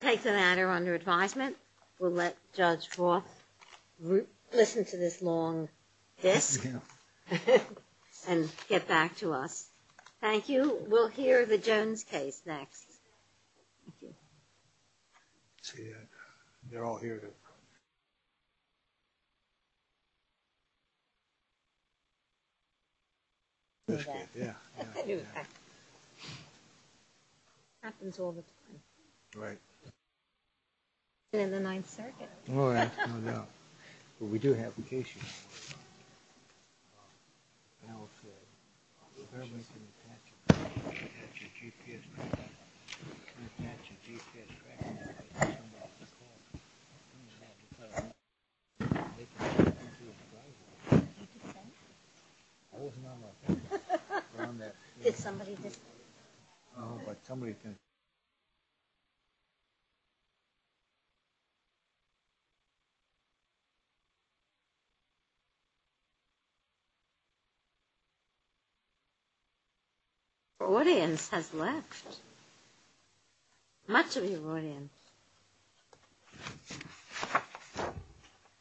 Take the matter under advisement. We'll let Judge Roth listen to this long disc and get back to us. Thank you. We'll hear the Jones case next. Thank you. See, they're all here. Yeah. Happens all the time. Right. In the Ninth Circuit. Oh, yeah. No doubt. But we do have vacations. Your audience has left. Much of your audience.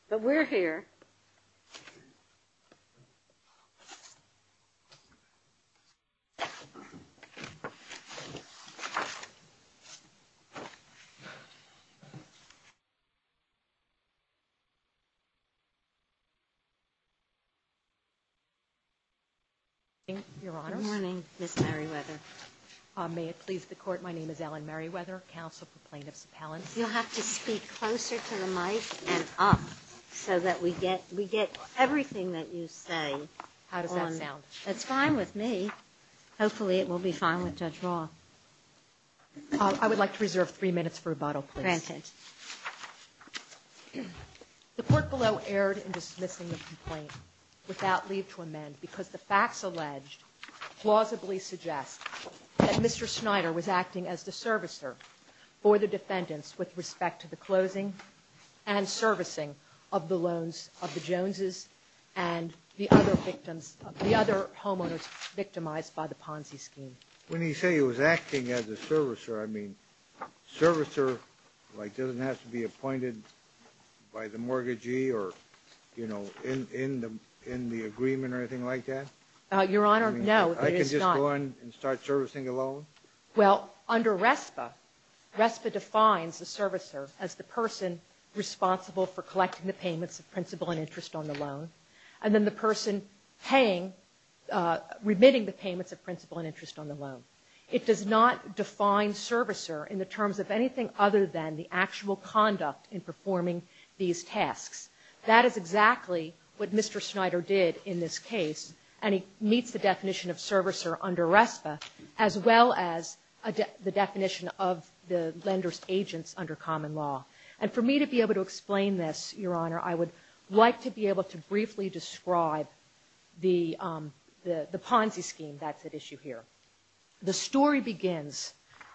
But we're here. Good morning, Your Honor. Good morning, Ms. Merriweather. May it please the Court, my name is Ellen Merriweather, Counsel for Plaintiffs Appellants. You'll have to speak closer to the mic and up so that we get everything that you say. How does that sound? That's fine with me. Hopefully it will be fine with Judge Roth. Granted. The court below erred in dismissing the complaint without leave to amend because the facts alleged plausibly suggest that Mr. Schneider was acting as the servicer for the defendants with respect to the closing and servicing of the loans of the Joneses and the other victims, the other homeowners victimized by the Ponzi scheme. When you say he was acting as a servicer, I mean, servicer, like, doesn't have to be appointed by the mortgagee or, you know, in the agreement or anything like that? Your Honor, no, it is not. I can just go in and start servicing a loan? Well, under RESPA, RESPA defines the servicer as the person responsible for collecting the payments of principal and interest on the loan, and then the person paying, remitting the payments of principal and interest on the loan. It does not define servicer in the terms of anything other than the actual conduct in performing these tasks. That is exactly what Mr. Schneider did in this case, and he meets the definition of servicer under RESPA, as well as the definition of the lender's agents under common law. And for me to be able to explain this, Your Honor, I would like to be able to briefly describe the Ponzi scheme that's at issue here. The story begins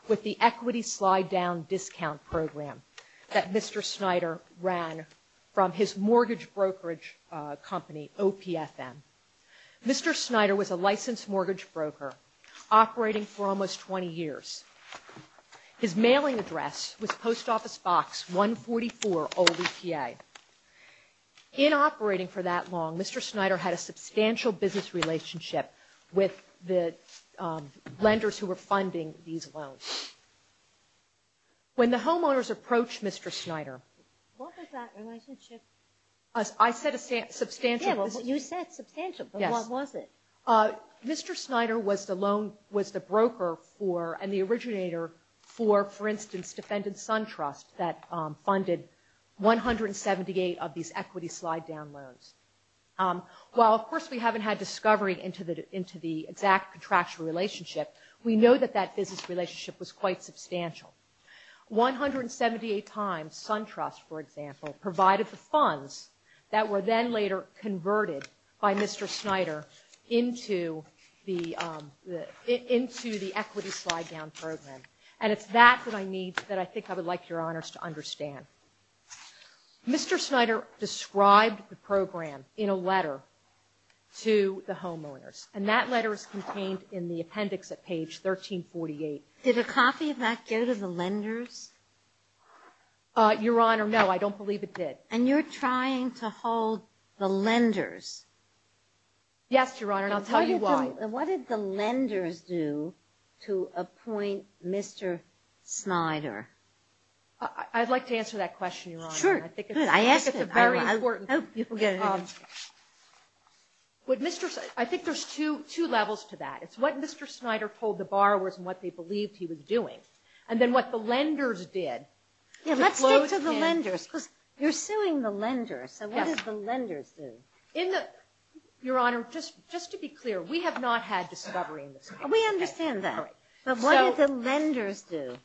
with the equity slide-down discount program that Mr. Schneider ran from his mortgage brokerage company, OPFM. Mr. Schneider was a licensed mortgage broker operating for almost 20 years. His mailing address was Post Office Box 144, OVPA. In operating for that long, Mr. Schneider had a substantial business relationship with the lenders who were funding these loans. When the homeowners approached Mr. Schneider... What was that relationship? I said substantial. Yes, you said substantial, but what was it? Mr. Schneider was the broker and the originator for, for instance, Defendant's Son Trust that funded 178 of these equity slide-down loans. While, of course, we haven't had discovery into the exact contractual relationship, we know that that business relationship was quite substantial. 178 times, Son Trust, for example, provided the funds that were then later converted by Mr. Schneider into the equity slide-down program, and it's that that I need, that I think I would like Your Honors to understand. Mr. Schneider described the program in a letter to the homeowners, and that letter is contained in the appendix at page 1348. Did a copy of that go to the lenders? Your Honor, no, I don't believe it did. And you're trying to hold the lenders. Yes, Your Honor, and I'll tell you why. What did the lenders do to appoint Mr. Schneider? I'd like to answer that question, Your Honor. Sure, good, I asked it. I think it's a very important question. Oh, you can go ahead. I think there's two levels to that. It's what Mr. Schneider told the borrowers and what they believed he was doing, and then what the lenders did. Yeah, let's stick to the lenders, because you're suing the lenders, so what did the lenders do? Your Honor, just to be clear, we have not had discovery in this contract. We understand that, but what did the lenders do?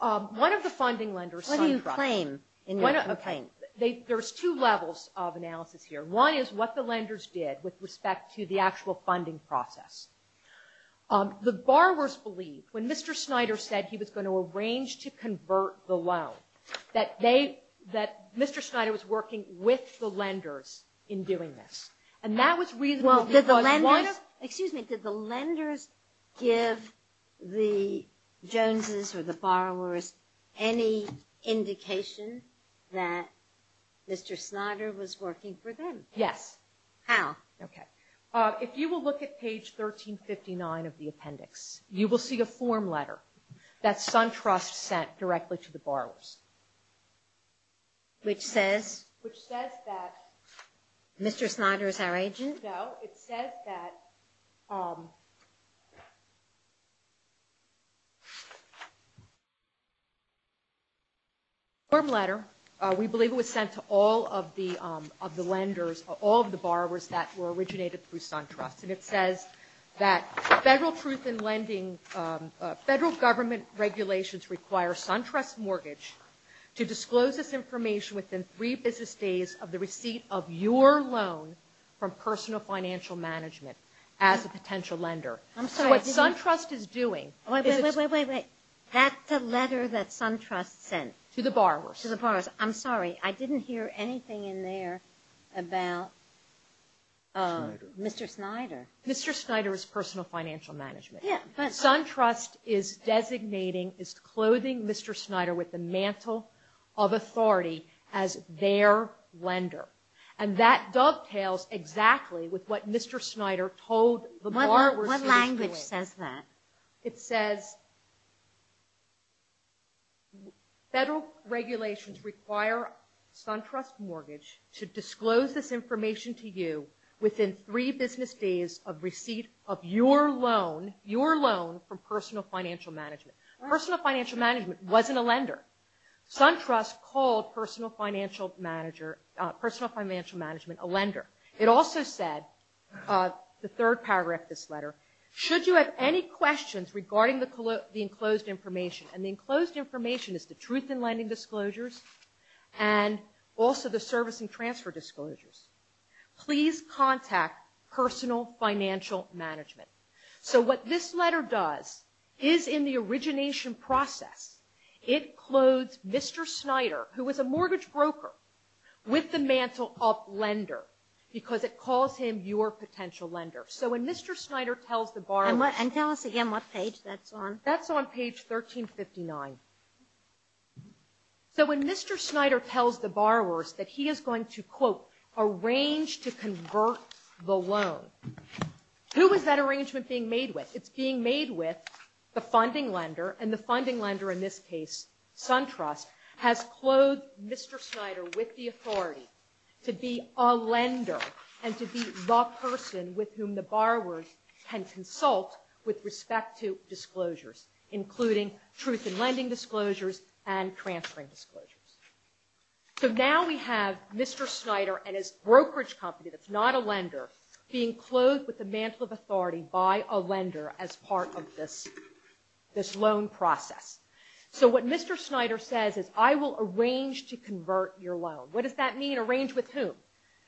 One of the funding lenders, Son Trust. What do you claim in your complaint? There's two levels of analysis here. One is what the lenders did with respect to the actual funding process. The borrowers believed, when Mr. Schneider said he was going to arrange to convert the loan, that Mr. Schneider was working with the lenders in doing this. And that was reasonable because why not? Excuse me. Did the lenders give the Joneses or the borrowers any indication that Mr. Schneider was working for them? Yes. How? Okay. If you will look at page 1359 of the appendix, you will see a form letter that Son Trust sent directly to the borrowers. Which says? Which says that Mr. Schneider is our agent? No, it says that the form letter, we believe it was sent to all of the lenders, all of the borrowers that were originated through Son Trust. And it says that federal truth in lending, federal government regulations require Son Trust mortgage to disclose this information within three business days of the receipt of your loan from personal financial management as a potential lender. I'm sorry. What Son Trust is doing is Wait, wait, wait. That's the letter that Son Trust sent. To the borrowers. To the borrowers. I'm sorry. I didn't hear anything in there about Mr. Schneider. Mr. Schneider is personal financial management. Yeah, but What Son Trust is designating is clothing Mr. Schneider with the mantle of authority as their lender. And that dovetails exactly with what Mr. Schneider told the borrowers to do. What language says that? It says federal regulations require Son Trust mortgage to disclose this information to you within three business days of receipt of your loan from personal financial management. Personal financial management wasn't a lender. Son Trust called personal financial management a lender. It also said, the third paragraph of this letter, should you have any questions regarding the enclosed information, and the enclosed information is the truth in lending disclosures and also the service and transfer disclosures, please contact personal financial management. So what this letter does is, in the origination process, it clothes Mr. Schneider, who was a mortgage broker, with the mantle of lender. Because it calls him your potential lender. So when Mr. Schneider tells the borrowers And tell us again what page that's on. That's on page 1359. So when Mr. Schneider tells the borrowers that he is going to, quote, arrange to convert the loan, who is that arrangement being made with? It's being made with the funding lender. And the funding lender, in this case, Son Trust, has clothed Mr. Schneider with the authority to be a lender and to be the person with whom the borrowers can consult with respect to disclosures, including truth in lending disclosures and transferring disclosures. So now we have Mr. Schneider and his brokerage company that's not a lender being clothed with the mantle of authority by a lender as part of this loan process. So what Mr. Schneider says is, I will arrange to convert your loan. What does that mean, arrange with whom?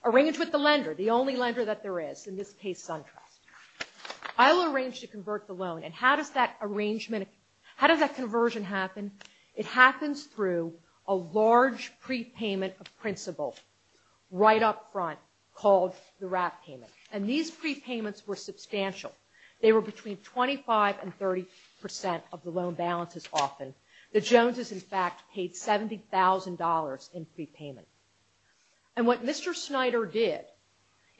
Arrange with the lender, the only lender that there is, in this case, Son Trust. I will arrange to convert the loan. And how does that arrangement, how does that conversion happen? It happens through a large prepayment of principal right up front called the wrap payment. And these prepayments were substantial. They were between 25% and 30% of the loan balances often. The Joneses, in fact, paid $70,000 in prepayment. And what Mr. Schneider did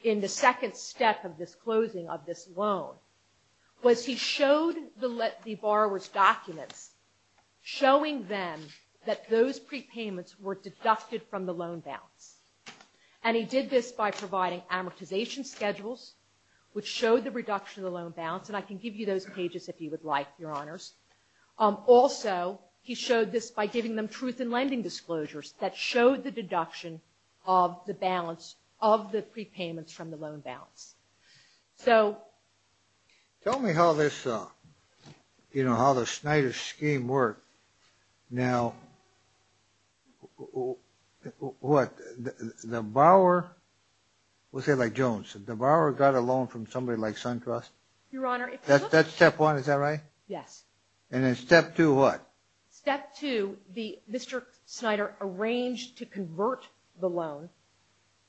in the second step of this closing of this loan was he showed the borrowers' documents, showing them that those prepayments were deducted from the loan balance. And he did this by providing amortization schedules, which showed the reduction of the loan balance. And I can give you those pages if you would like, Your Honors. Also, he showed this by giving them truth in lending disclosures that showed the deduction of the balance of the prepayments from the loan balance. So... Tell me how this, you know, how the Schneider scheme worked. Now, what, the borrower, let's say like Jones, did the borrower got a loan from somebody like Son Trust? Your Honor, if you look... That's step one, is that right? Yes. And then step two, what? Step two, Mr. Schneider arranged to convert the loan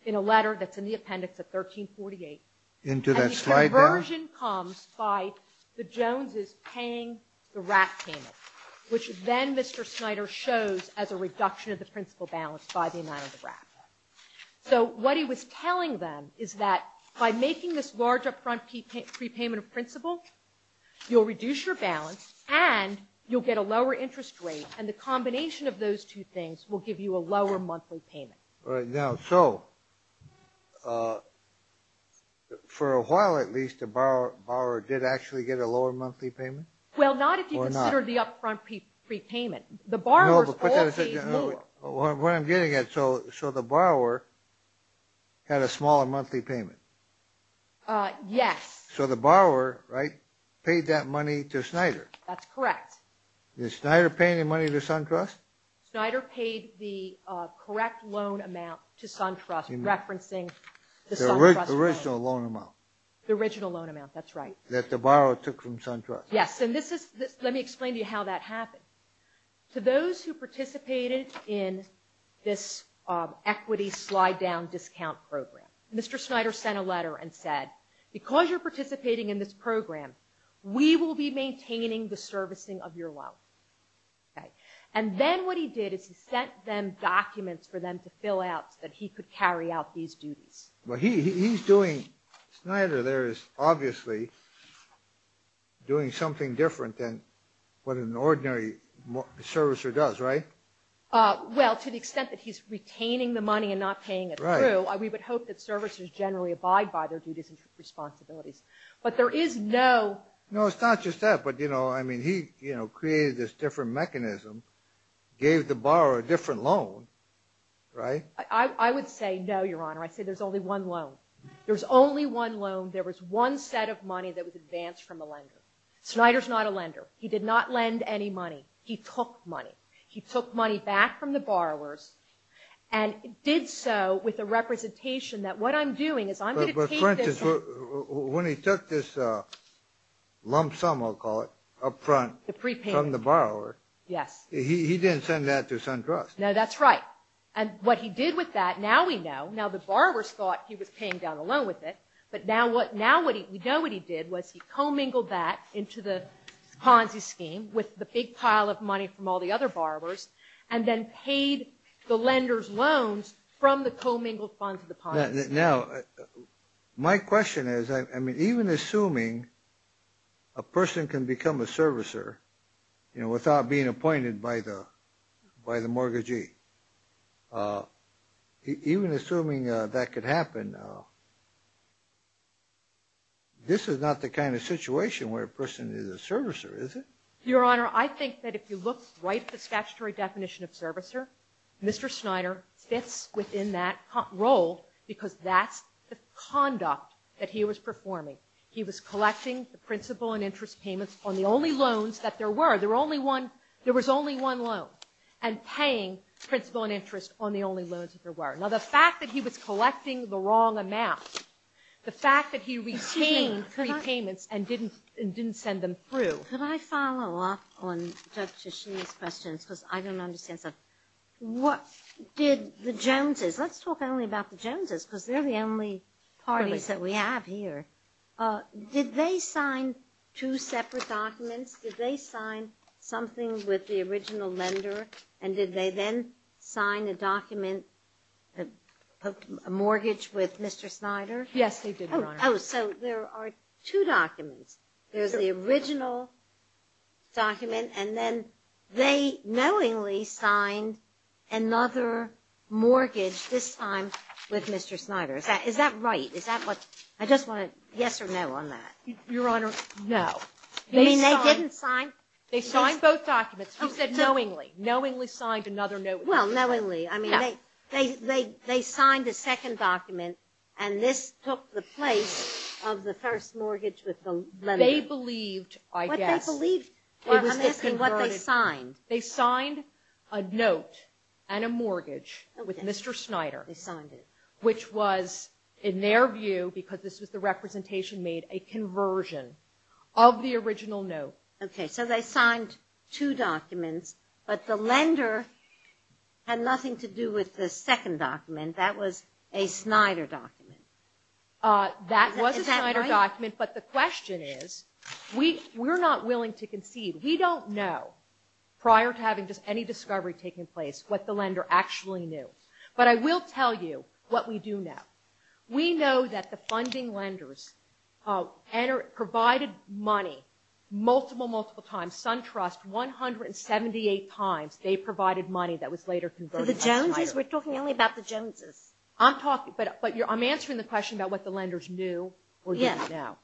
in a letter that's in the appendix of 1348. Into that slide there? And the conversion comes by the Joneses paying the RAT payment, which then Mr. Schneider shows as a reduction of the principal balance by the amount of the RAT. So what he was telling them is that by making this large upfront prepayment of principal, you'll reduce your balance and you'll get a lower interest rate and the combination of those two things will give you a lower monthly payment. All right. Now, so for a while at least, the borrower did actually get a lower monthly payment? Well, not if you consider the upfront prepayment. The borrower's all paid more. What I'm getting at, so the borrower had a smaller monthly payment? Yes. So the borrower, right, paid that money to Schneider. That's correct. Did Schneider pay any money to SunTrust? Schneider paid the correct loan amount to SunTrust, referencing the SunTrust loan. The original loan amount. The original loan amount, that's right. That the borrower took from SunTrust. Yes, and let me explain to you how that happened. To those who participated in this equity slide-down discount program, Mr. Schneider sent a letter and said, because you're participating in this program, we will be maintaining the servicing of your loan. And then what he did is he sent them documents for them to fill out so that he could carry out these duties. Well, he's doing, Schneider there is obviously doing something different than what an ordinary servicer does, right? Well, to the extent that he's retaining the money and not paying it through, we would hope that servicers generally abide by their duties and responsibilities. But there is no – No, it's not just that. But, you know, I mean, he created this different mechanism, gave the borrower a different loan, right? I would say no, Your Honor. I'd say there's only one loan. There's only one loan. There was one set of money that was advanced from a lender. Schneider's not a lender. He did not lend any money. He took money. He took money back from the borrowers and did so with the representation that what I'm doing is I'm going to take this – But, for instance, when he took this lump sum, I'll call it, up front – The prepayment. From the borrower. Yes. He didn't send that to SunTrust. No, that's right. And what he did with that, now we know, now the borrowers thought he was paying down the loan with it, but now we know what he did was he commingled that into the Ponzi scheme with the big pile of money from all the other borrowers and then paid the lender's loans from the commingled funds of the Ponzi scheme. Now, my question is, I mean, even assuming a person can become a servicer, you know, without being appointed by the mortgagee, even assuming that could happen, this is not the kind of situation where a person is a servicer, is it? Your Honor, I think that if you look right at the statutory definition of servicer, Mr. Schneider fits within that role because that's the conduct that he was performing. He was collecting the principal and interest payments on the only loans that there were. There were only one – there was only one loan, and paying principal and interest on the only loans that there were. Now, the fact that he was collecting the wrong amount, the fact that he retained repayments and didn't send them through. Could I follow up on Judge Tichini's questions because I don't understand stuff? What did the Joneses – let's talk only about the Joneses because they're the only parties that we have here. Did they sign two separate documents? Did they sign something with the original lender? And did they then sign a document, a mortgage with Mr. Schneider? Yes, they did, Your Honor. Oh, so there are two documents. There's the original document, and then they knowingly signed another mortgage this time with Mr. Schneider. Is that right? Is that what – I just want a yes or no on that. Your Honor, no. I mean, they didn't sign – They signed both documents. You said knowingly. Knowingly signed another note with Mr. Schneider. Well, knowingly. I mean, they signed a second document, and this took the place of the first mortgage with the lender. They believed, I guess. What they believed – I'm asking what they signed. They signed a note and a mortgage with Mr. Schneider. They signed it. Which was, in their view, because this was the representation made, a conversion of the original note. Okay, so they signed two documents, but the lender had nothing to do with the second document. That was a Schneider document. That was a Schneider document. But the question is, we're not willing to concede. We don't know, prior to having any discovery taking place, what the lender actually knew. But I will tell you what we do know. We know that the funding lenders provided money multiple, multiple times. SunTrust, 178 times they provided money that was later converted by Schneider. The Joneses? We're talking only about the Joneses. I'm talking – but I'm answering the question about what the lenders knew. Yes. Or didn't know.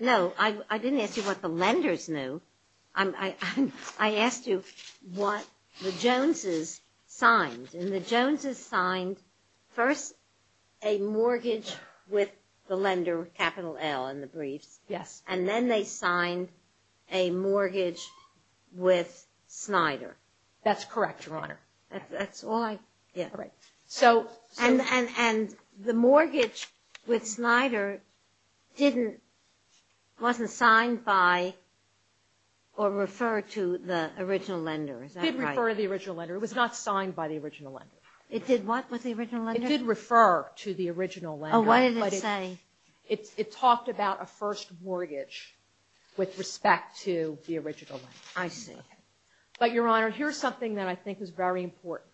No, I didn't ask you what the lenders knew. I asked you what the Joneses signed. And the Joneses signed first a mortgage with the lender, capital L in the briefs. Yes. And then they signed a mortgage with Schneider. That's correct, Your Honor. That's all I – yeah. All right. So – And the mortgage with Schneider didn't – wasn't signed by or referred to the original lender. Is that right? It did refer to the original lender. It was not signed by the original lender. It did what with the original lender? It did refer to the original lender. Oh, what did it say? It talked about a first mortgage with respect to the original lender. I see. But, Your Honor, here's something that I think is very important.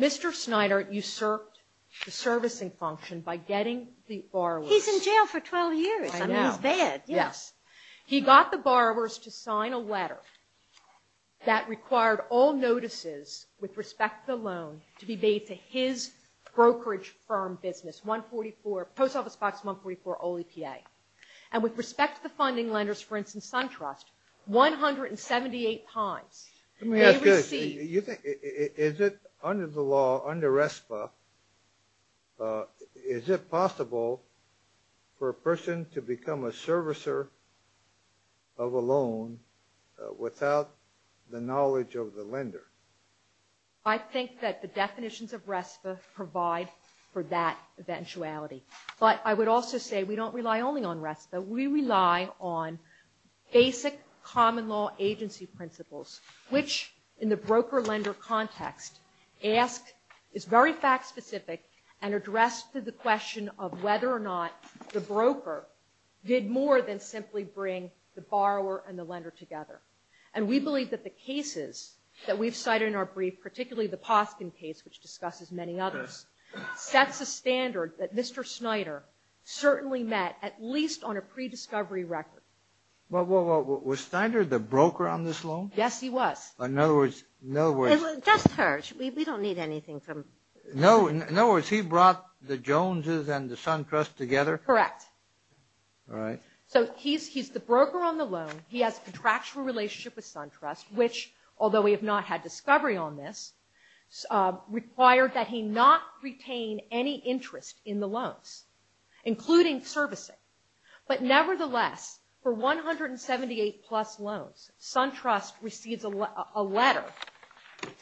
Mr. Schneider usurped the servicing function by getting the borrowers – He's in jail for 12 years. I know. I mean, he's bad. Yes. He got the borrowers to sign a letter that required all notices with respect to the loan to be made to his brokerage firm business, Post Office Box 144, all EPA. And with respect to the funding lenders, for instance, SunTrust, 178 times they received – Let me ask you this. Is it under the law, under RESPA, is it possible for a person to become a servicer of a loan without the knowledge of the lender? I think that the definitions of RESPA provide for that eventuality. But I would also say we don't rely only on RESPA. We rely on basic common law agency principles, which, in the broker-lender context, is very fact-specific and addressed to the question of whether or not the broker did more than simply bring the borrower and the lender together. And we believe that the cases that we've cited in our brief, particularly the Poskin case, which discusses many others, sets a standard that Mr. Schneider certainly met, at least on a pre-discovery record. Well, was Schneider the broker on this loan? Yes, he was. In other words – It doesn't hurt. We don't need anything from – In other words, he brought the Joneses and the SunTrust together? Correct. All right. So he's the broker on the loan. He has a contractual relationship with SunTrust, which, although we have not had discovery on this, required that he not retain any interest in the loans, including servicing. But nevertheless, for 178-plus loans, SunTrust receives a letter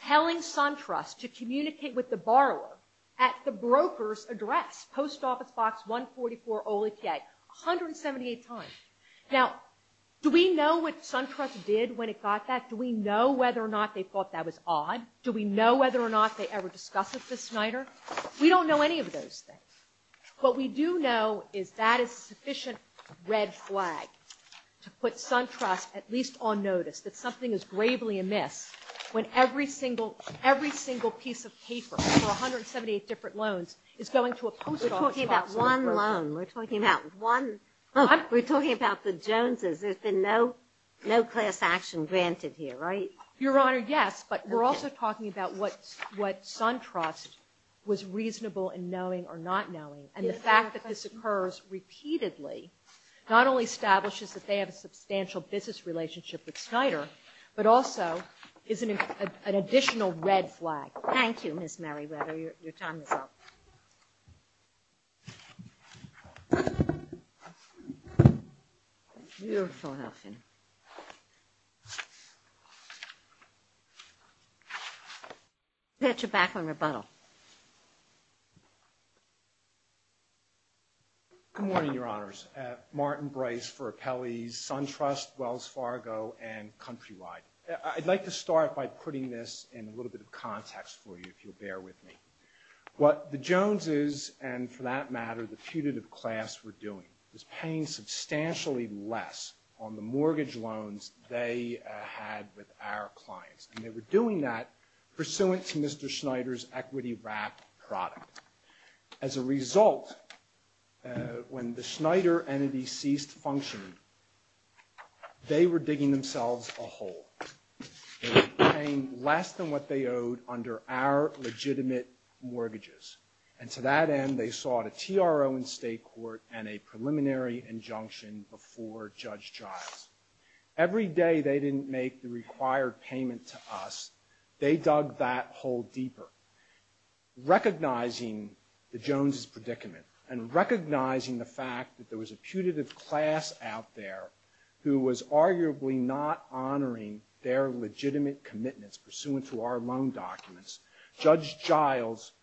telling SunTrust to communicate with the borrower at the broker's address, Post Office Box 144, OLEPA, 178 times. Now, do we know what SunTrust did when it got that? Do we know whether or not they thought that was odd? Do we know whether or not they ever discussed it with Schneider? We don't know any of those things. What we do know is that is a sufficient red flag to put SunTrust at least on notice that something is gravely amiss when every single piece of paper for 178 different loans is going to a Post Office Box – We're talking about one loan. We're talking about one – What? We're talking about the Joneses. There's been no class action granted here, right? Your Honor, yes, but we're also talking about what SunTrust was reasonable in knowing or not knowing, and the fact that this occurs repeatedly not only establishes that they have a substantial business relationship with Schneider, but also is an additional red flag. Thank you, Ms. Merriweather. Your time is up. Beautiful, Huffington. I'll get you back on rebuttal. Good morning, Your Honors. Martin Bryce for Appellees, SunTrust, Wells Fargo, and Countrywide. I'd like to start by putting this in a little bit of context for you, if you'll bear with me. What the Joneses and, for that matter, the putative class were doing was paying substantially less on the mortgage loans they had with our clients, and they were doing that pursuant to Mr. Schneider's equity-wrapped product. As a result, when the Schneider entity ceased functioning, they were digging themselves a hole. They were paying less than what they owed under our legitimate mortgages, and to that end they sought a TRO in state court and a preliminary injunction before Judge Giles. Every day they didn't make the required payment to us. They dug that hole deeper, recognizing the Joneses' predicament and recognizing the fact that there was a putative class out there who was arguably not honoring their legitimate commitments pursuant to our loan documents. Judge Giles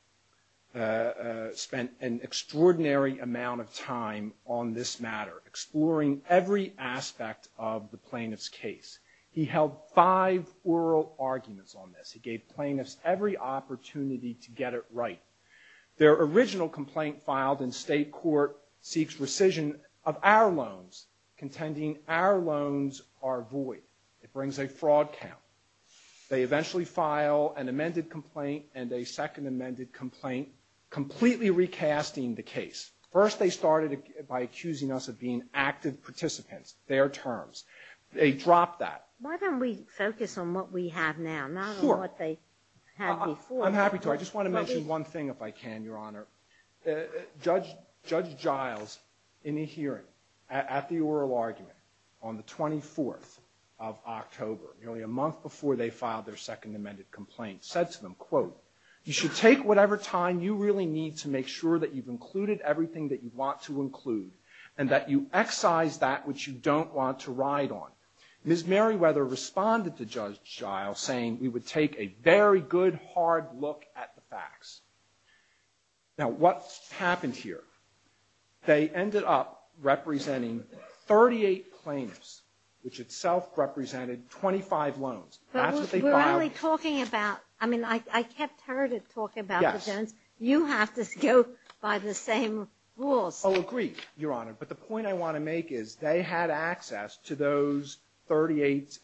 spent an extraordinary amount of time on this matter, exploring every aspect of the plaintiff's case. He held five oral arguments on this. He gave plaintiffs every opportunity to get it right. Their original complaint filed in state court seeks rescission of our loans, contending our loans are void. It brings a fraud count. They eventually file an amended complaint and a second amended complaint, completely recasting the case. First they started by accusing us of being active participants, their terms. They dropped that. Why don't we focus on what we have now, not on what they had before? I'm happy to. I just want to mention one thing, if I can, Your Honor. Judge Giles, in a hearing at the oral argument on the 24th of October, nearly a month before they filed their second amended complaint, said to them, quote, You should take whatever time you really need to make sure that you've included everything that you want to include and that you excise that which you don't want to ride on. Ms. Merriweather responded to Judge Giles saying we would take a very good, hard look at the facts. Now what happened here? They ended up representing 38 plaintiffs, which itself represented 25 loans. That's what they filed. But we're only talking about, I mean, I kept her to talk about the loans. You have to go by the same rules. Oh, agreed, Your Honor. But the point I want to make is they had access to those 38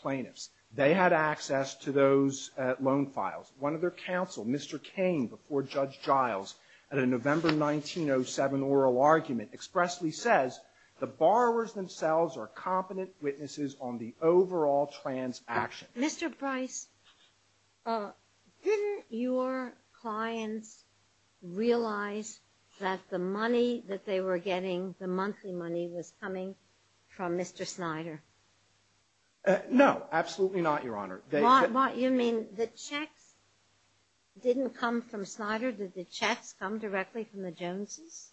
plaintiffs. They had access to those loan files. One of their counsel, Mr. Cain, before Judge Giles, at a November 1907 oral argument, expressly says, The borrowers themselves are competent witnesses on the overall transaction. Mr. Price, didn't your clients realize that the money that they were getting, the monthly money, was coming from Mr. Snyder? No, absolutely not, Your Honor. You mean the checks didn't come from Snyder? Did the checks come directly from the Joneses?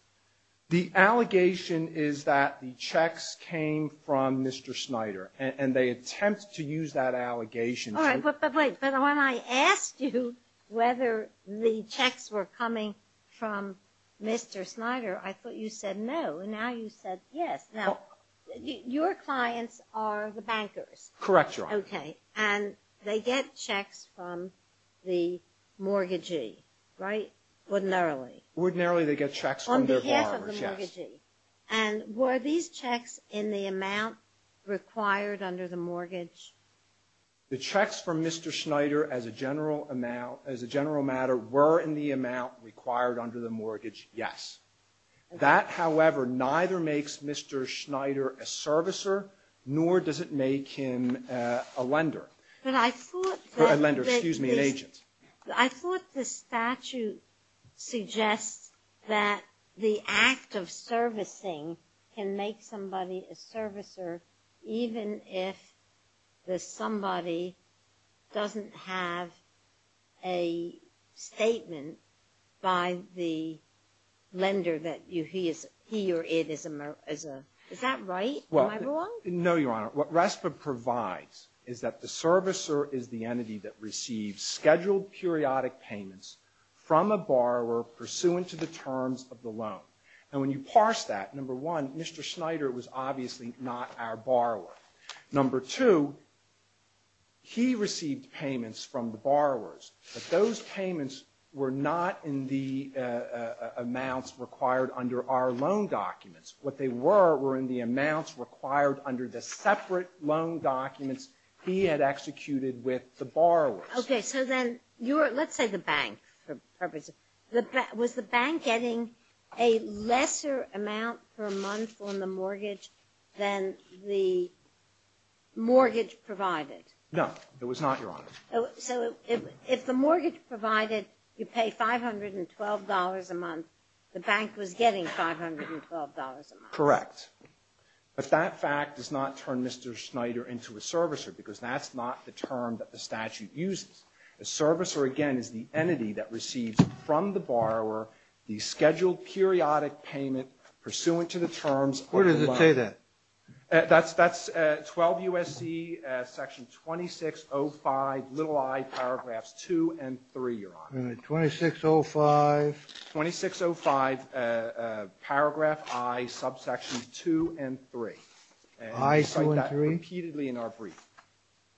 The allegation is that the checks came from Mr. Snyder, and they attempt to use that allegation to – All right, but wait. When I asked you whether the checks were coming from Mr. Snyder, I thought you said no, and now you said yes. Now, your clients are the bankers. Correct, Your Honor. Okay, and they get checks from the mortgagee, right? Ordinarily. Ordinarily, they get checks from their borrowers, yes. On behalf of the mortgagee. And were these checks in the amount required under the mortgage? The checks from Mr. Snyder, as a general matter, were in the amount required under the mortgage, yes. That, however, neither makes Mr. Snyder a servicer, nor does it make him a lender. A lender, excuse me, an agent. I thought the statute suggests that the act of servicing can make somebody a servicer even if the somebody doesn't have a statement by the lender that he or it is a – is that right? Am I wrong? No, Your Honor. What RESPA provides is that the servicer is the entity that receives scheduled periodic payments from a borrower pursuant to the terms of the loan. And when you parse that, number one, Mr. Snyder was obviously not our borrower. Number two, he received payments from the borrowers, but those payments were not in the amounts required under our loan documents. What they were were in the amounts required under the separate loan documents he had executed with the borrowers. Okay, so then you're – let's say the bank. Was the bank getting a lesser amount per month on the mortgage than the mortgage provided? No, it was not, Your Honor. So if the mortgage provided you pay $512 a month, the bank was getting $512 a month? Correct. But that fact does not turn Mr. Snyder into a servicer because that's not the term that the statute uses. A servicer, again, is the entity that receives from the borrower the scheduled periodic payment pursuant to the terms of the loan. Where does it say that? That's 12 U.S.C. section 2605, little i, paragraphs 2 and 3, Your Honor. All right, 2605. 2605, paragraph i, subsection 2 and 3. I, 2 and 3. And we cite that repeatedly in our brief.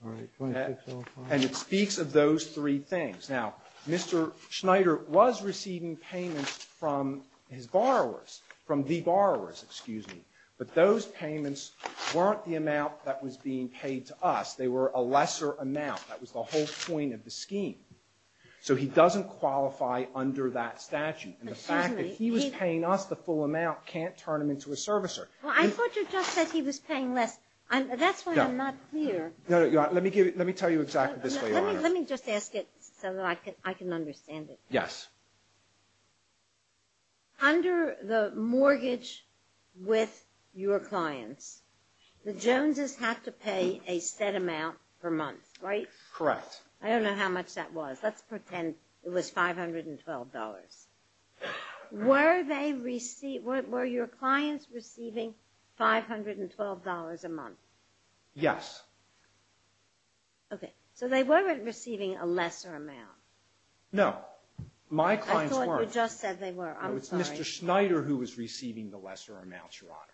All right, 2605. And it speaks of those three things. Now, Mr. Snyder was receiving payments from his borrowers, from the borrowers, excuse me. But those payments weren't the amount that was being paid to us. They were a lesser amount. That was the whole point of the scheme. So he doesn't qualify under that statute. And the fact that he was paying us the full amount can't turn him into a servicer. Well, I thought you just said he was paying less. That's why I'm not clear. Let me tell you exactly this way, Your Honor. Let me just ask it so that I can understand it. Yes. Under the mortgage with your clients, the Joneses have to pay a set amount per month, right? Correct. I don't know how much that was. Let's pretend it was $512. Were your clients receiving $512 a month? Yes. Okay. So they weren't receiving a lesser amount. No. My clients weren't. I thought you just said they were. I'm sorry. No, it was Mr. Snyder who was receiving the lesser amounts, Your Honor.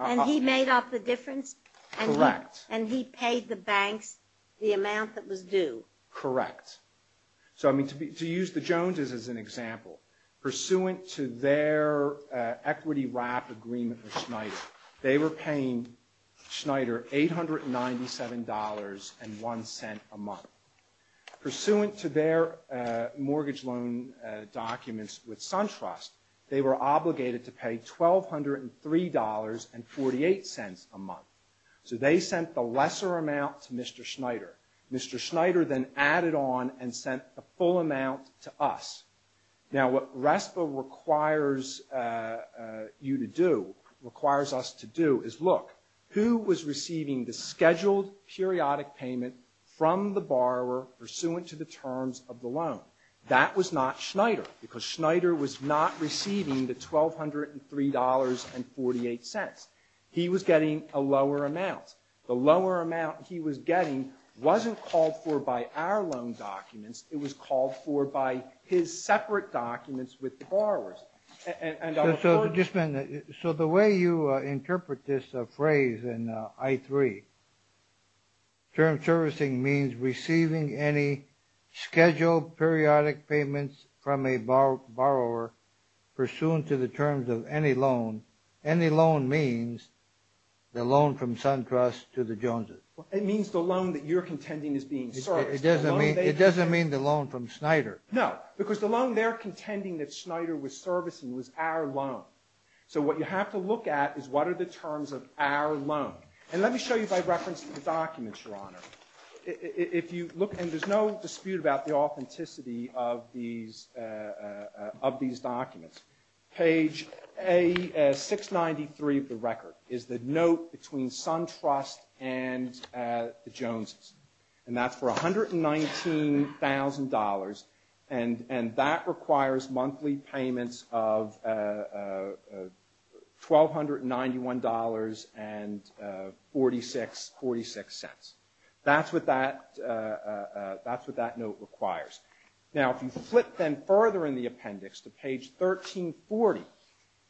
And he made up the difference? Correct. And he paid the banks the amount that was due? Correct. So, I mean, to use the Joneses as an example, pursuant to their equity wrap agreement with Snyder, they were paying Snyder $897.01 a month. Pursuant to their mortgage loan documents with SunTrust, they were obligated to pay $1203.48 a month. So they sent the lesser amount to Mr. Snyder. Mr. Snyder then added on and sent the full amount to us. Now, what RESPA requires you to do, requires us to do is look, who was receiving the scheduled periodic payment from the borrower pursuant to the terms of the loan? That was not Snyder because Snyder was not receiving the $1203.48. He was getting a lower amount. The lower amount he was getting wasn't called for by our loan documents. It was called for by his separate documents with the borrowers. So just a minute. So the way you interpret this phrase in I-3, term servicing means receiving any scheduled periodic payments from a borrower pursuant to the terms of any loan. Any loan means the loan from SunTrust to the Joneses. It means the loan that you're contending is being serviced. It doesn't mean the loan from Snyder. No, because the loan they're contending that Snyder was servicing was our loan. So what you have to look at is what are the terms of our loan. And let me show you by reference to the documents, Your Honor. If you look, and there's no dispute about the authenticity of these documents. Page 693 of the record is the note between SunTrust and the Joneses. And that's for $119,000. And that requires monthly payments of $1,291.46. That's what that note requires. Now, if you flip then further in the appendix to page 1340,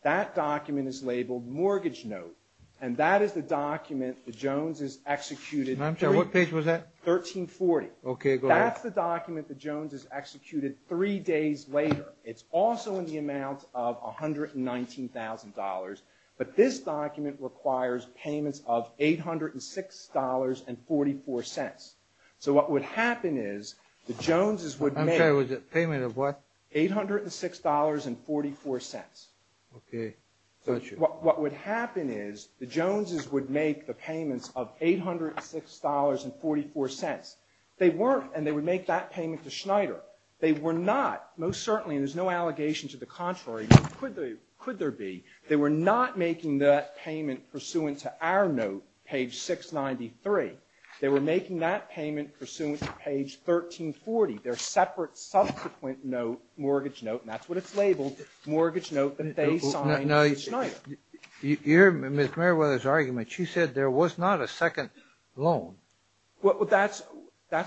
that document is labeled mortgage note. And that is the document the Joneses executed. I'm sorry, what page was that? 1340. Okay, go ahead. That's the document the Joneses executed three days later. It's also in the amount of $119,000. But this document requires payments of $806.44. So what would happen is the Joneses would make. I'm sorry, it was a payment of what? $806.44. Okay. What would happen is the Joneses would make the payments of $806.44. They weren't, and they would make that payment to Schneider. They were not, most certainly, and there's no allegation to the contrary, but could there be? They were not making that payment pursuant to our note, page 693. They were making that payment pursuant to page 1340, their separate, mortgage note that they signed with Schneider. You hear Ms. Mayweather's argument. She said there was not a second loan. Well, that's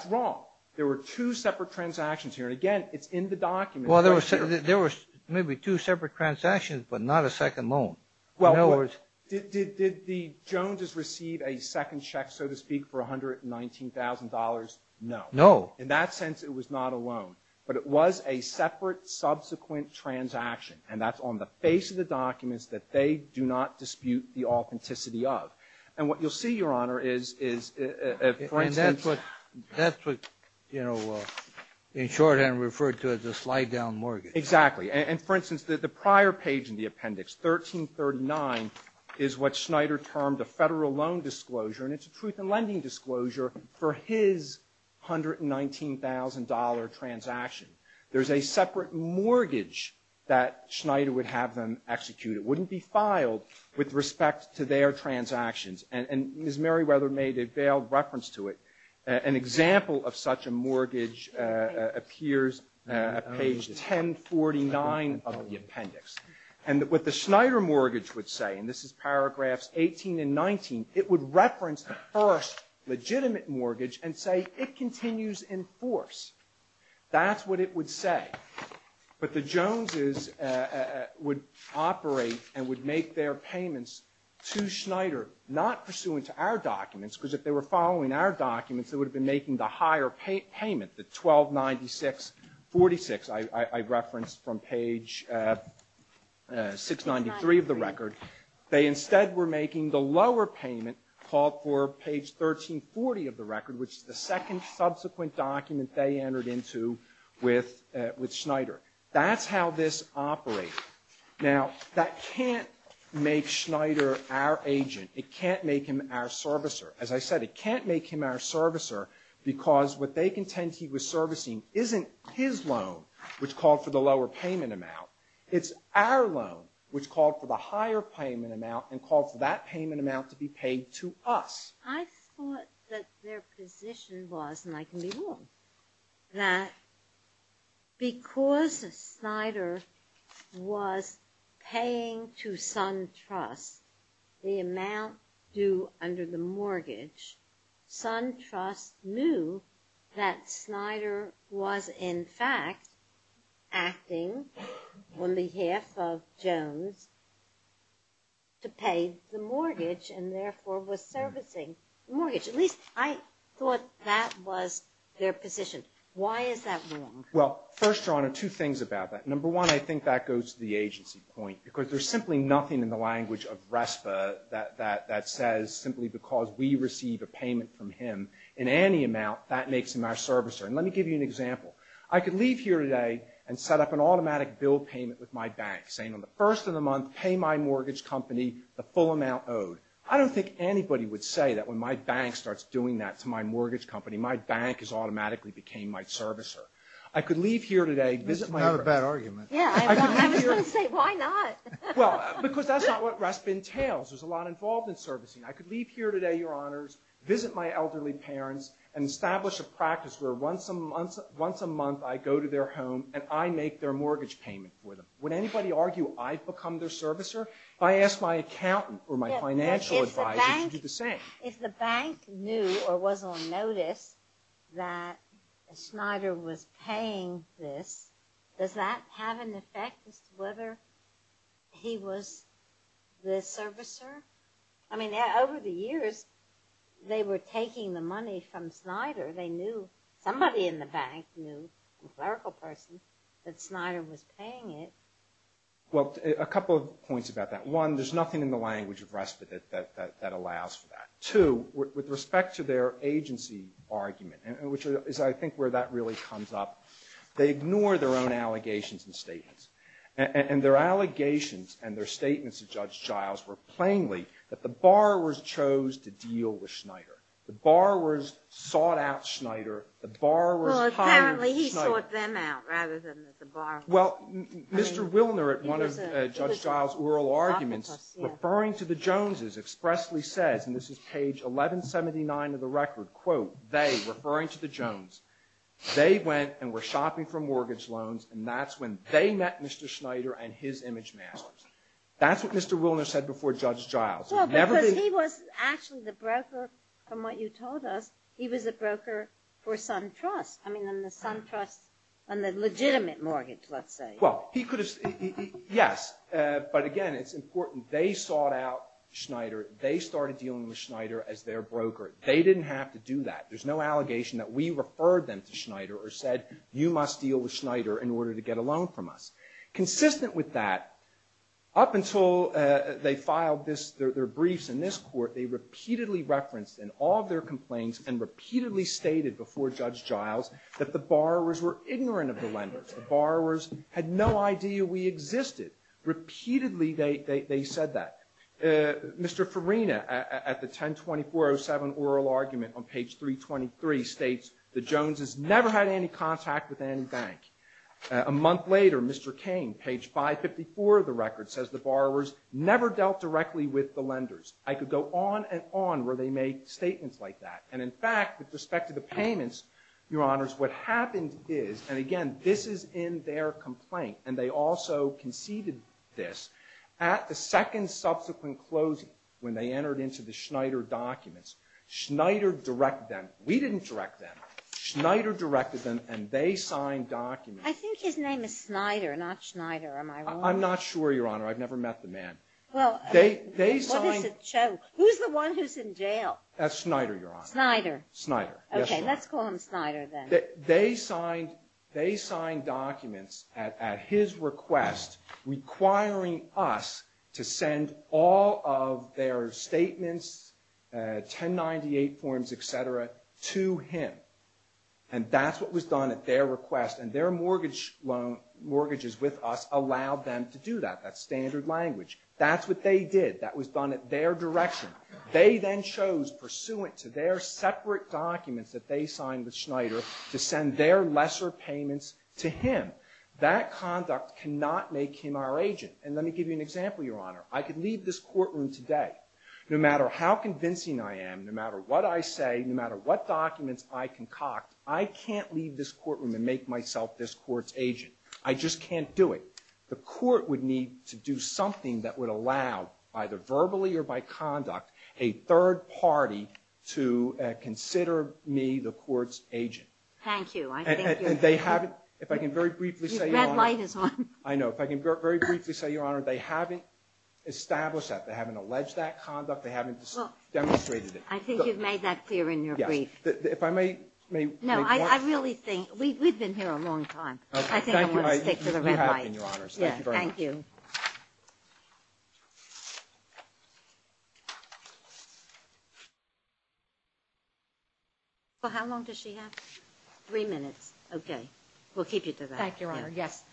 wrong. There were two separate transactions here. And, again, it's in the document. Well, there was maybe two separate transactions, but not a second loan. Well, did the Joneses receive a second check, so to speak, for $119,000? No. No. In that sense, it was not a loan. But it was a separate, subsequent transaction, and that's on the face of the documents that they do not dispute the authenticity of. And what you'll see, Your Honor, is, for instance — And that's what, you know, in shorthand referred to as a slide-down mortgage. Exactly. And, for instance, the prior page in the appendix, 1339, is what Schneider termed a federal loan disclosure, and it's a truth-in-lending disclosure for his $119,000 transaction. There's a separate mortgage that Schneider would have them execute. It wouldn't be filed with respect to their transactions. And Ms. Mayweather made a veiled reference to it. An example of such a mortgage appears at page 1049 of the appendix. And what the Schneider mortgage would say, and this is paragraphs 18 and 19, it would reference the first legitimate mortgage and say it continues in force. That's what it would say. But the Joneses would operate and would make their payments to Schneider, not pursuant to our documents, because if they were following our documents, they would have been making the higher payment, the 1296.46 I referenced from page 693 of the record. They instead were making the lower payment called for page 1340 of the record, which is the second subsequent document they entered into with Schneider. That's how this operated. Now, that can't make Schneider our agent. It can't make him our servicer. As I said, it can't make him our servicer because what they contend he was servicing isn't his loan, which called for the lower payment amount. It's our loan, which called for the higher payment amount and called for that payment amount to be paid to us. I thought that their position was, and I can be wrong, that because Schneider was paying to SunTrust the amount due under the mortgage, SunTrust knew that Schneider was, in fact, acting on behalf of Jones to pay the mortgage and therefore was servicing the mortgage. At least I thought that was their position. Why is that wrong? Well, first, Your Honor, two things about that. Number one, I think that goes to the agency point because there's simply nothing in the language of RESPA that says simply because we receive a payment from him in any amount, that makes him our servicer. And let me give you an example. I could leave here today and set up an automatic bill payment with my bank, saying on the first of the month, pay my mortgage company the full amount owed. I don't think anybody would say that when my bank starts doing that to my mortgage company, my bank has automatically became my servicer. I could leave here today, visit my broker. That's not a bad argument. Yeah, I was going to say, why not? Well, because that's not what RESPA entails. There's a lot involved in servicing. I could leave here today, Your Honors, visit my elderly parents, and establish a practice where once a month I go to their home and I make their mortgage payment for them. Would anybody argue I've become their servicer? If I ask my accountant or my financial advisor, they should do the same. If the bank knew or was on notice that Schneider was paying this, does that have an effect as to whether he was the servicer? I mean, over the years, they were taking the money from Schneider. They knew somebody in the bank knew, a clerical person, that Schneider was paying it. Well, a couple of points about that. One, there's nothing in the language of RESPA that allows for that. Two, with respect to their agency argument, which is, I think, where that really comes up, they ignore their own allegations and statements. And their allegations and their statements of Judge Giles were plainly that the borrowers chose to deal with Schneider. The borrowers sought out Schneider. The borrowers hired Schneider. Well, apparently he sought them out rather than the borrowers. Well, Mr. Wilner, at one of Judge Giles' oral arguments, referring to the Joneses, expressly says, and this is page 1179 of the record, quote, they, referring to the Joneses, they went and were shopping for mortgage loans, and that's when they met Mr. Schneider and his image masters. That's what Mr. Wilner said before Judge Giles. Well, because he was actually the broker from what you told us. He was a broker for SunTrust. I mean, on the SunTrust, on the legitimate mortgage, let's say. Well, he could have, yes. But, again, it's important. They sought out Schneider. They started dealing with Schneider as their broker. They didn't have to do that. There's no allegation that we referred them to Schneider or said, you must deal with Schneider in order to get a loan from us. Consistent with that, up until they filed their briefs in this court, they repeatedly referenced in all of their complaints and repeatedly stated before Judge Giles that the borrowers were ignorant of the lenders. The borrowers had no idea we existed. Repeatedly they said that. Mr. Farina, at the 10-2407 oral argument on page 323, states, the Joneses never had any contact with any bank. A month later, Mr. Cain, page 554 of the record, says, the borrowers never dealt directly with the lenders. I could go on and on where they made statements like that. And, in fact, with respect to the payments, Your Honors, what happened is, and, again, this is in their complaint, and they also conceded this, at the second subsequent closing, when they entered into the Schneider documents, Schneider directed them. We didn't direct them. Schneider directed them, and they signed documents. I think his name is Schneider, not Schneider. Am I wrong? I'm not sure, Your Honor. I've never met the man. Well, what is a choke? Who's the one who's in jail? That's Schneider, Your Honor. Schneider. Schneider, yes, Your Honor. Okay, let's call him Schneider then. They signed documents at his request requiring us to send all of their statements, 1098 forms, et cetera, to him. And that's what was done at their request. And their mortgages with us allowed them to do that. That's standard language. That's what they did. That was done at their direction. They then chose, pursuant to their separate documents that they signed with Schneider, to send their lesser payments to him. That conduct cannot make him our agent. And let me give you an example, Your Honor. I could leave this courtroom today. No matter how convincing I am, no matter what I say, no matter what documents I concoct, I can't leave this courtroom and make myself this court's agent. I just can't do it. The court would need to do something that would allow, either verbally or by conduct, a third party to consider me the court's agent. Thank you. And they haven't, if I can very briefly say, Your Honor. The red light is on. I know. If I can very briefly say, Your Honor, they haven't established that. They haven't alleged that conduct. They haven't demonstrated it. I think you've made that clear in your brief. Yes. If I may make one. No, I really think, we've been here a long time. I think I'm going to stick to the red light. Thank you very much. Well, how long does she have? Three minutes. Okay. We'll keep you to that. Thank you, Your Honor. Yes.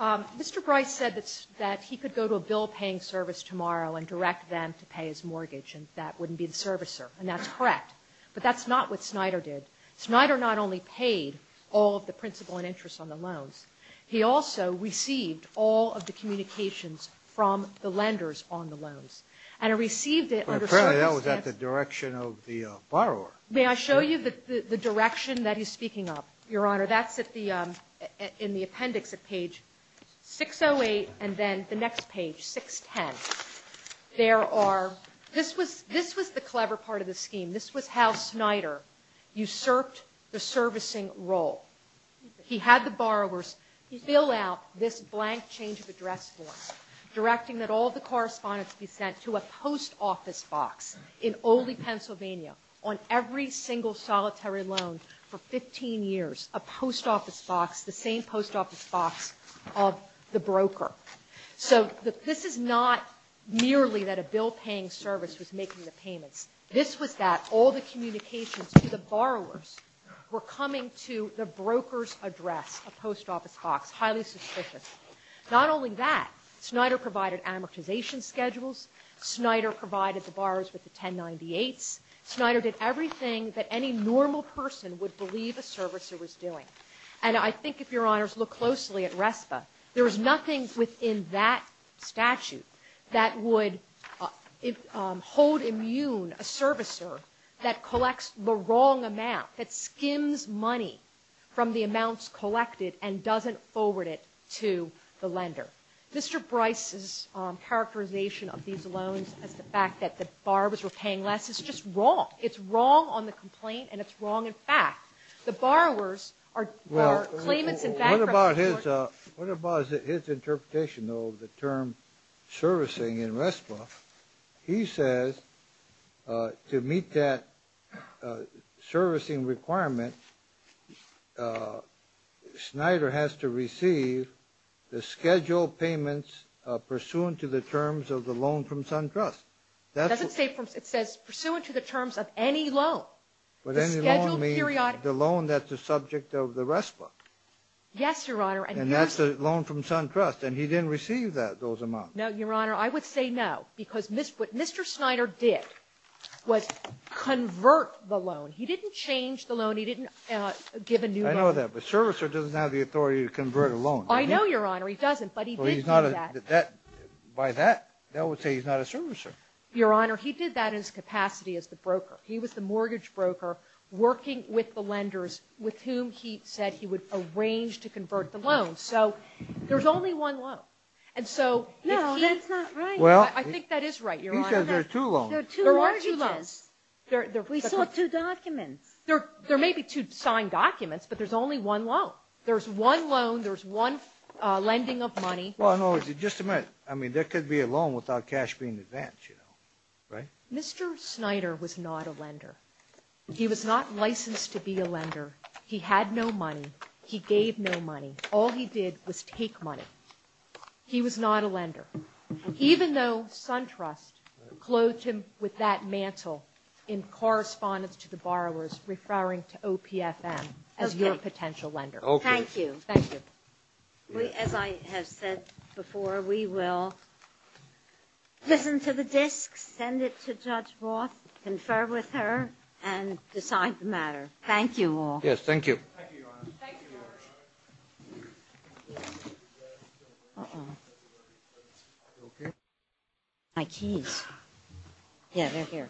Mr. Bryce said that he could go to a bill-paying service tomorrow and direct them to pay his mortgage, and that wouldn't be the servicer. And that's correct. But that's not what Snyder did. Snyder not only paid all of the principal and interest on the loans. He also received all of the communications from the lenders on the loans. And he received it under circumstance. Apparently, that was at the direction of the borrower. May I show you the direction that he's speaking of? Your Honor, that's at the – in the appendix at page 608, and then the next page, 610. There are – this was the clever part of the scheme. This was how Snyder usurped the servicing role. He had the borrowers fill out this blank change-of-address form, directing that all of the correspondence be sent to a post office box in Oldie, Pennsylvania, on every single solitary loan for 15 years, a post office box, the same post office box of the broker. So this is not merely that a bill-paying service was making the payments. This was that all the communications to the borrowers were coming to the broker's address, a post office box, highly suspicious. Not only that, Snyder provided amortization schedules. Snyder provided the borrowers with the 1098s. Snyder did everything that any normal person would believe a servicer was doing. And I think, if Your Honors look closely at RESPA, there was nothing within that statute that would hold immune a servicer that collects the wrong amount, that skims money from the amounts collected and doesn't forward it to the lender. Mr. Bryce's characterization of these loans as the fact that the borrowers were paying less is just wrong. It's wrong on the complaint, and it's wrong in fact. The borrowers are claimants and bankrupt. What about his interpretation, though, of the term servicing in RESPA? He says to meet that servicing requirement, Snyder has to receive the scheduled payments pursuant to the terms of the loan from SunTrust. It says pursuant to the terms of any loan. But any loan means the loan that's the subject of the RESPA. Yes, Your Honor. And that's the loan from SunTrust. And he didn't receive those amounts. No, Your Honor. I would say no, because what Mr. Snyder did was convert the loan. He didn't change the loan. He didn't give a new loan. I know that. But a servicer doesn't have the authority to convert a loan. I know, Your Honor. He doesn't, but he did do that. By that, that would say he's not a servicer. Your Honor, he did that in his capacity as the broker. He was the mortgage broker working with the lenders with whom he said he would arrange to convert the loan. So there's only one loan. No, that's not right. I think that is right, Your Honor. He says there are two loans. There are two loans. We saw two documents. There may be two signed documents, but there's only one loan. There's one loan. There's one lending of money. Just a minute. I mean, there could be a loan without cash being advanced, right? Mr. Snyder was not a lender. He was not licensed to be a lender. He had no money. He gave no money. All he did was take money. He was not a lender. Even though SunTrust clothed him with that mantle in correspondence to the borrowers referring to OPFM as your potential lender. Okay. Thank you. Thank you. As I have said before, we will listen to the disk, send it to Judge Roth, confer with her, and decide the matter. Thank you all. Yes, thank you. Thank you, Your Honor. Thank you, Your Honor. Uh-oh. My keys. Yeah, they're here. Thank you very much. Thank you.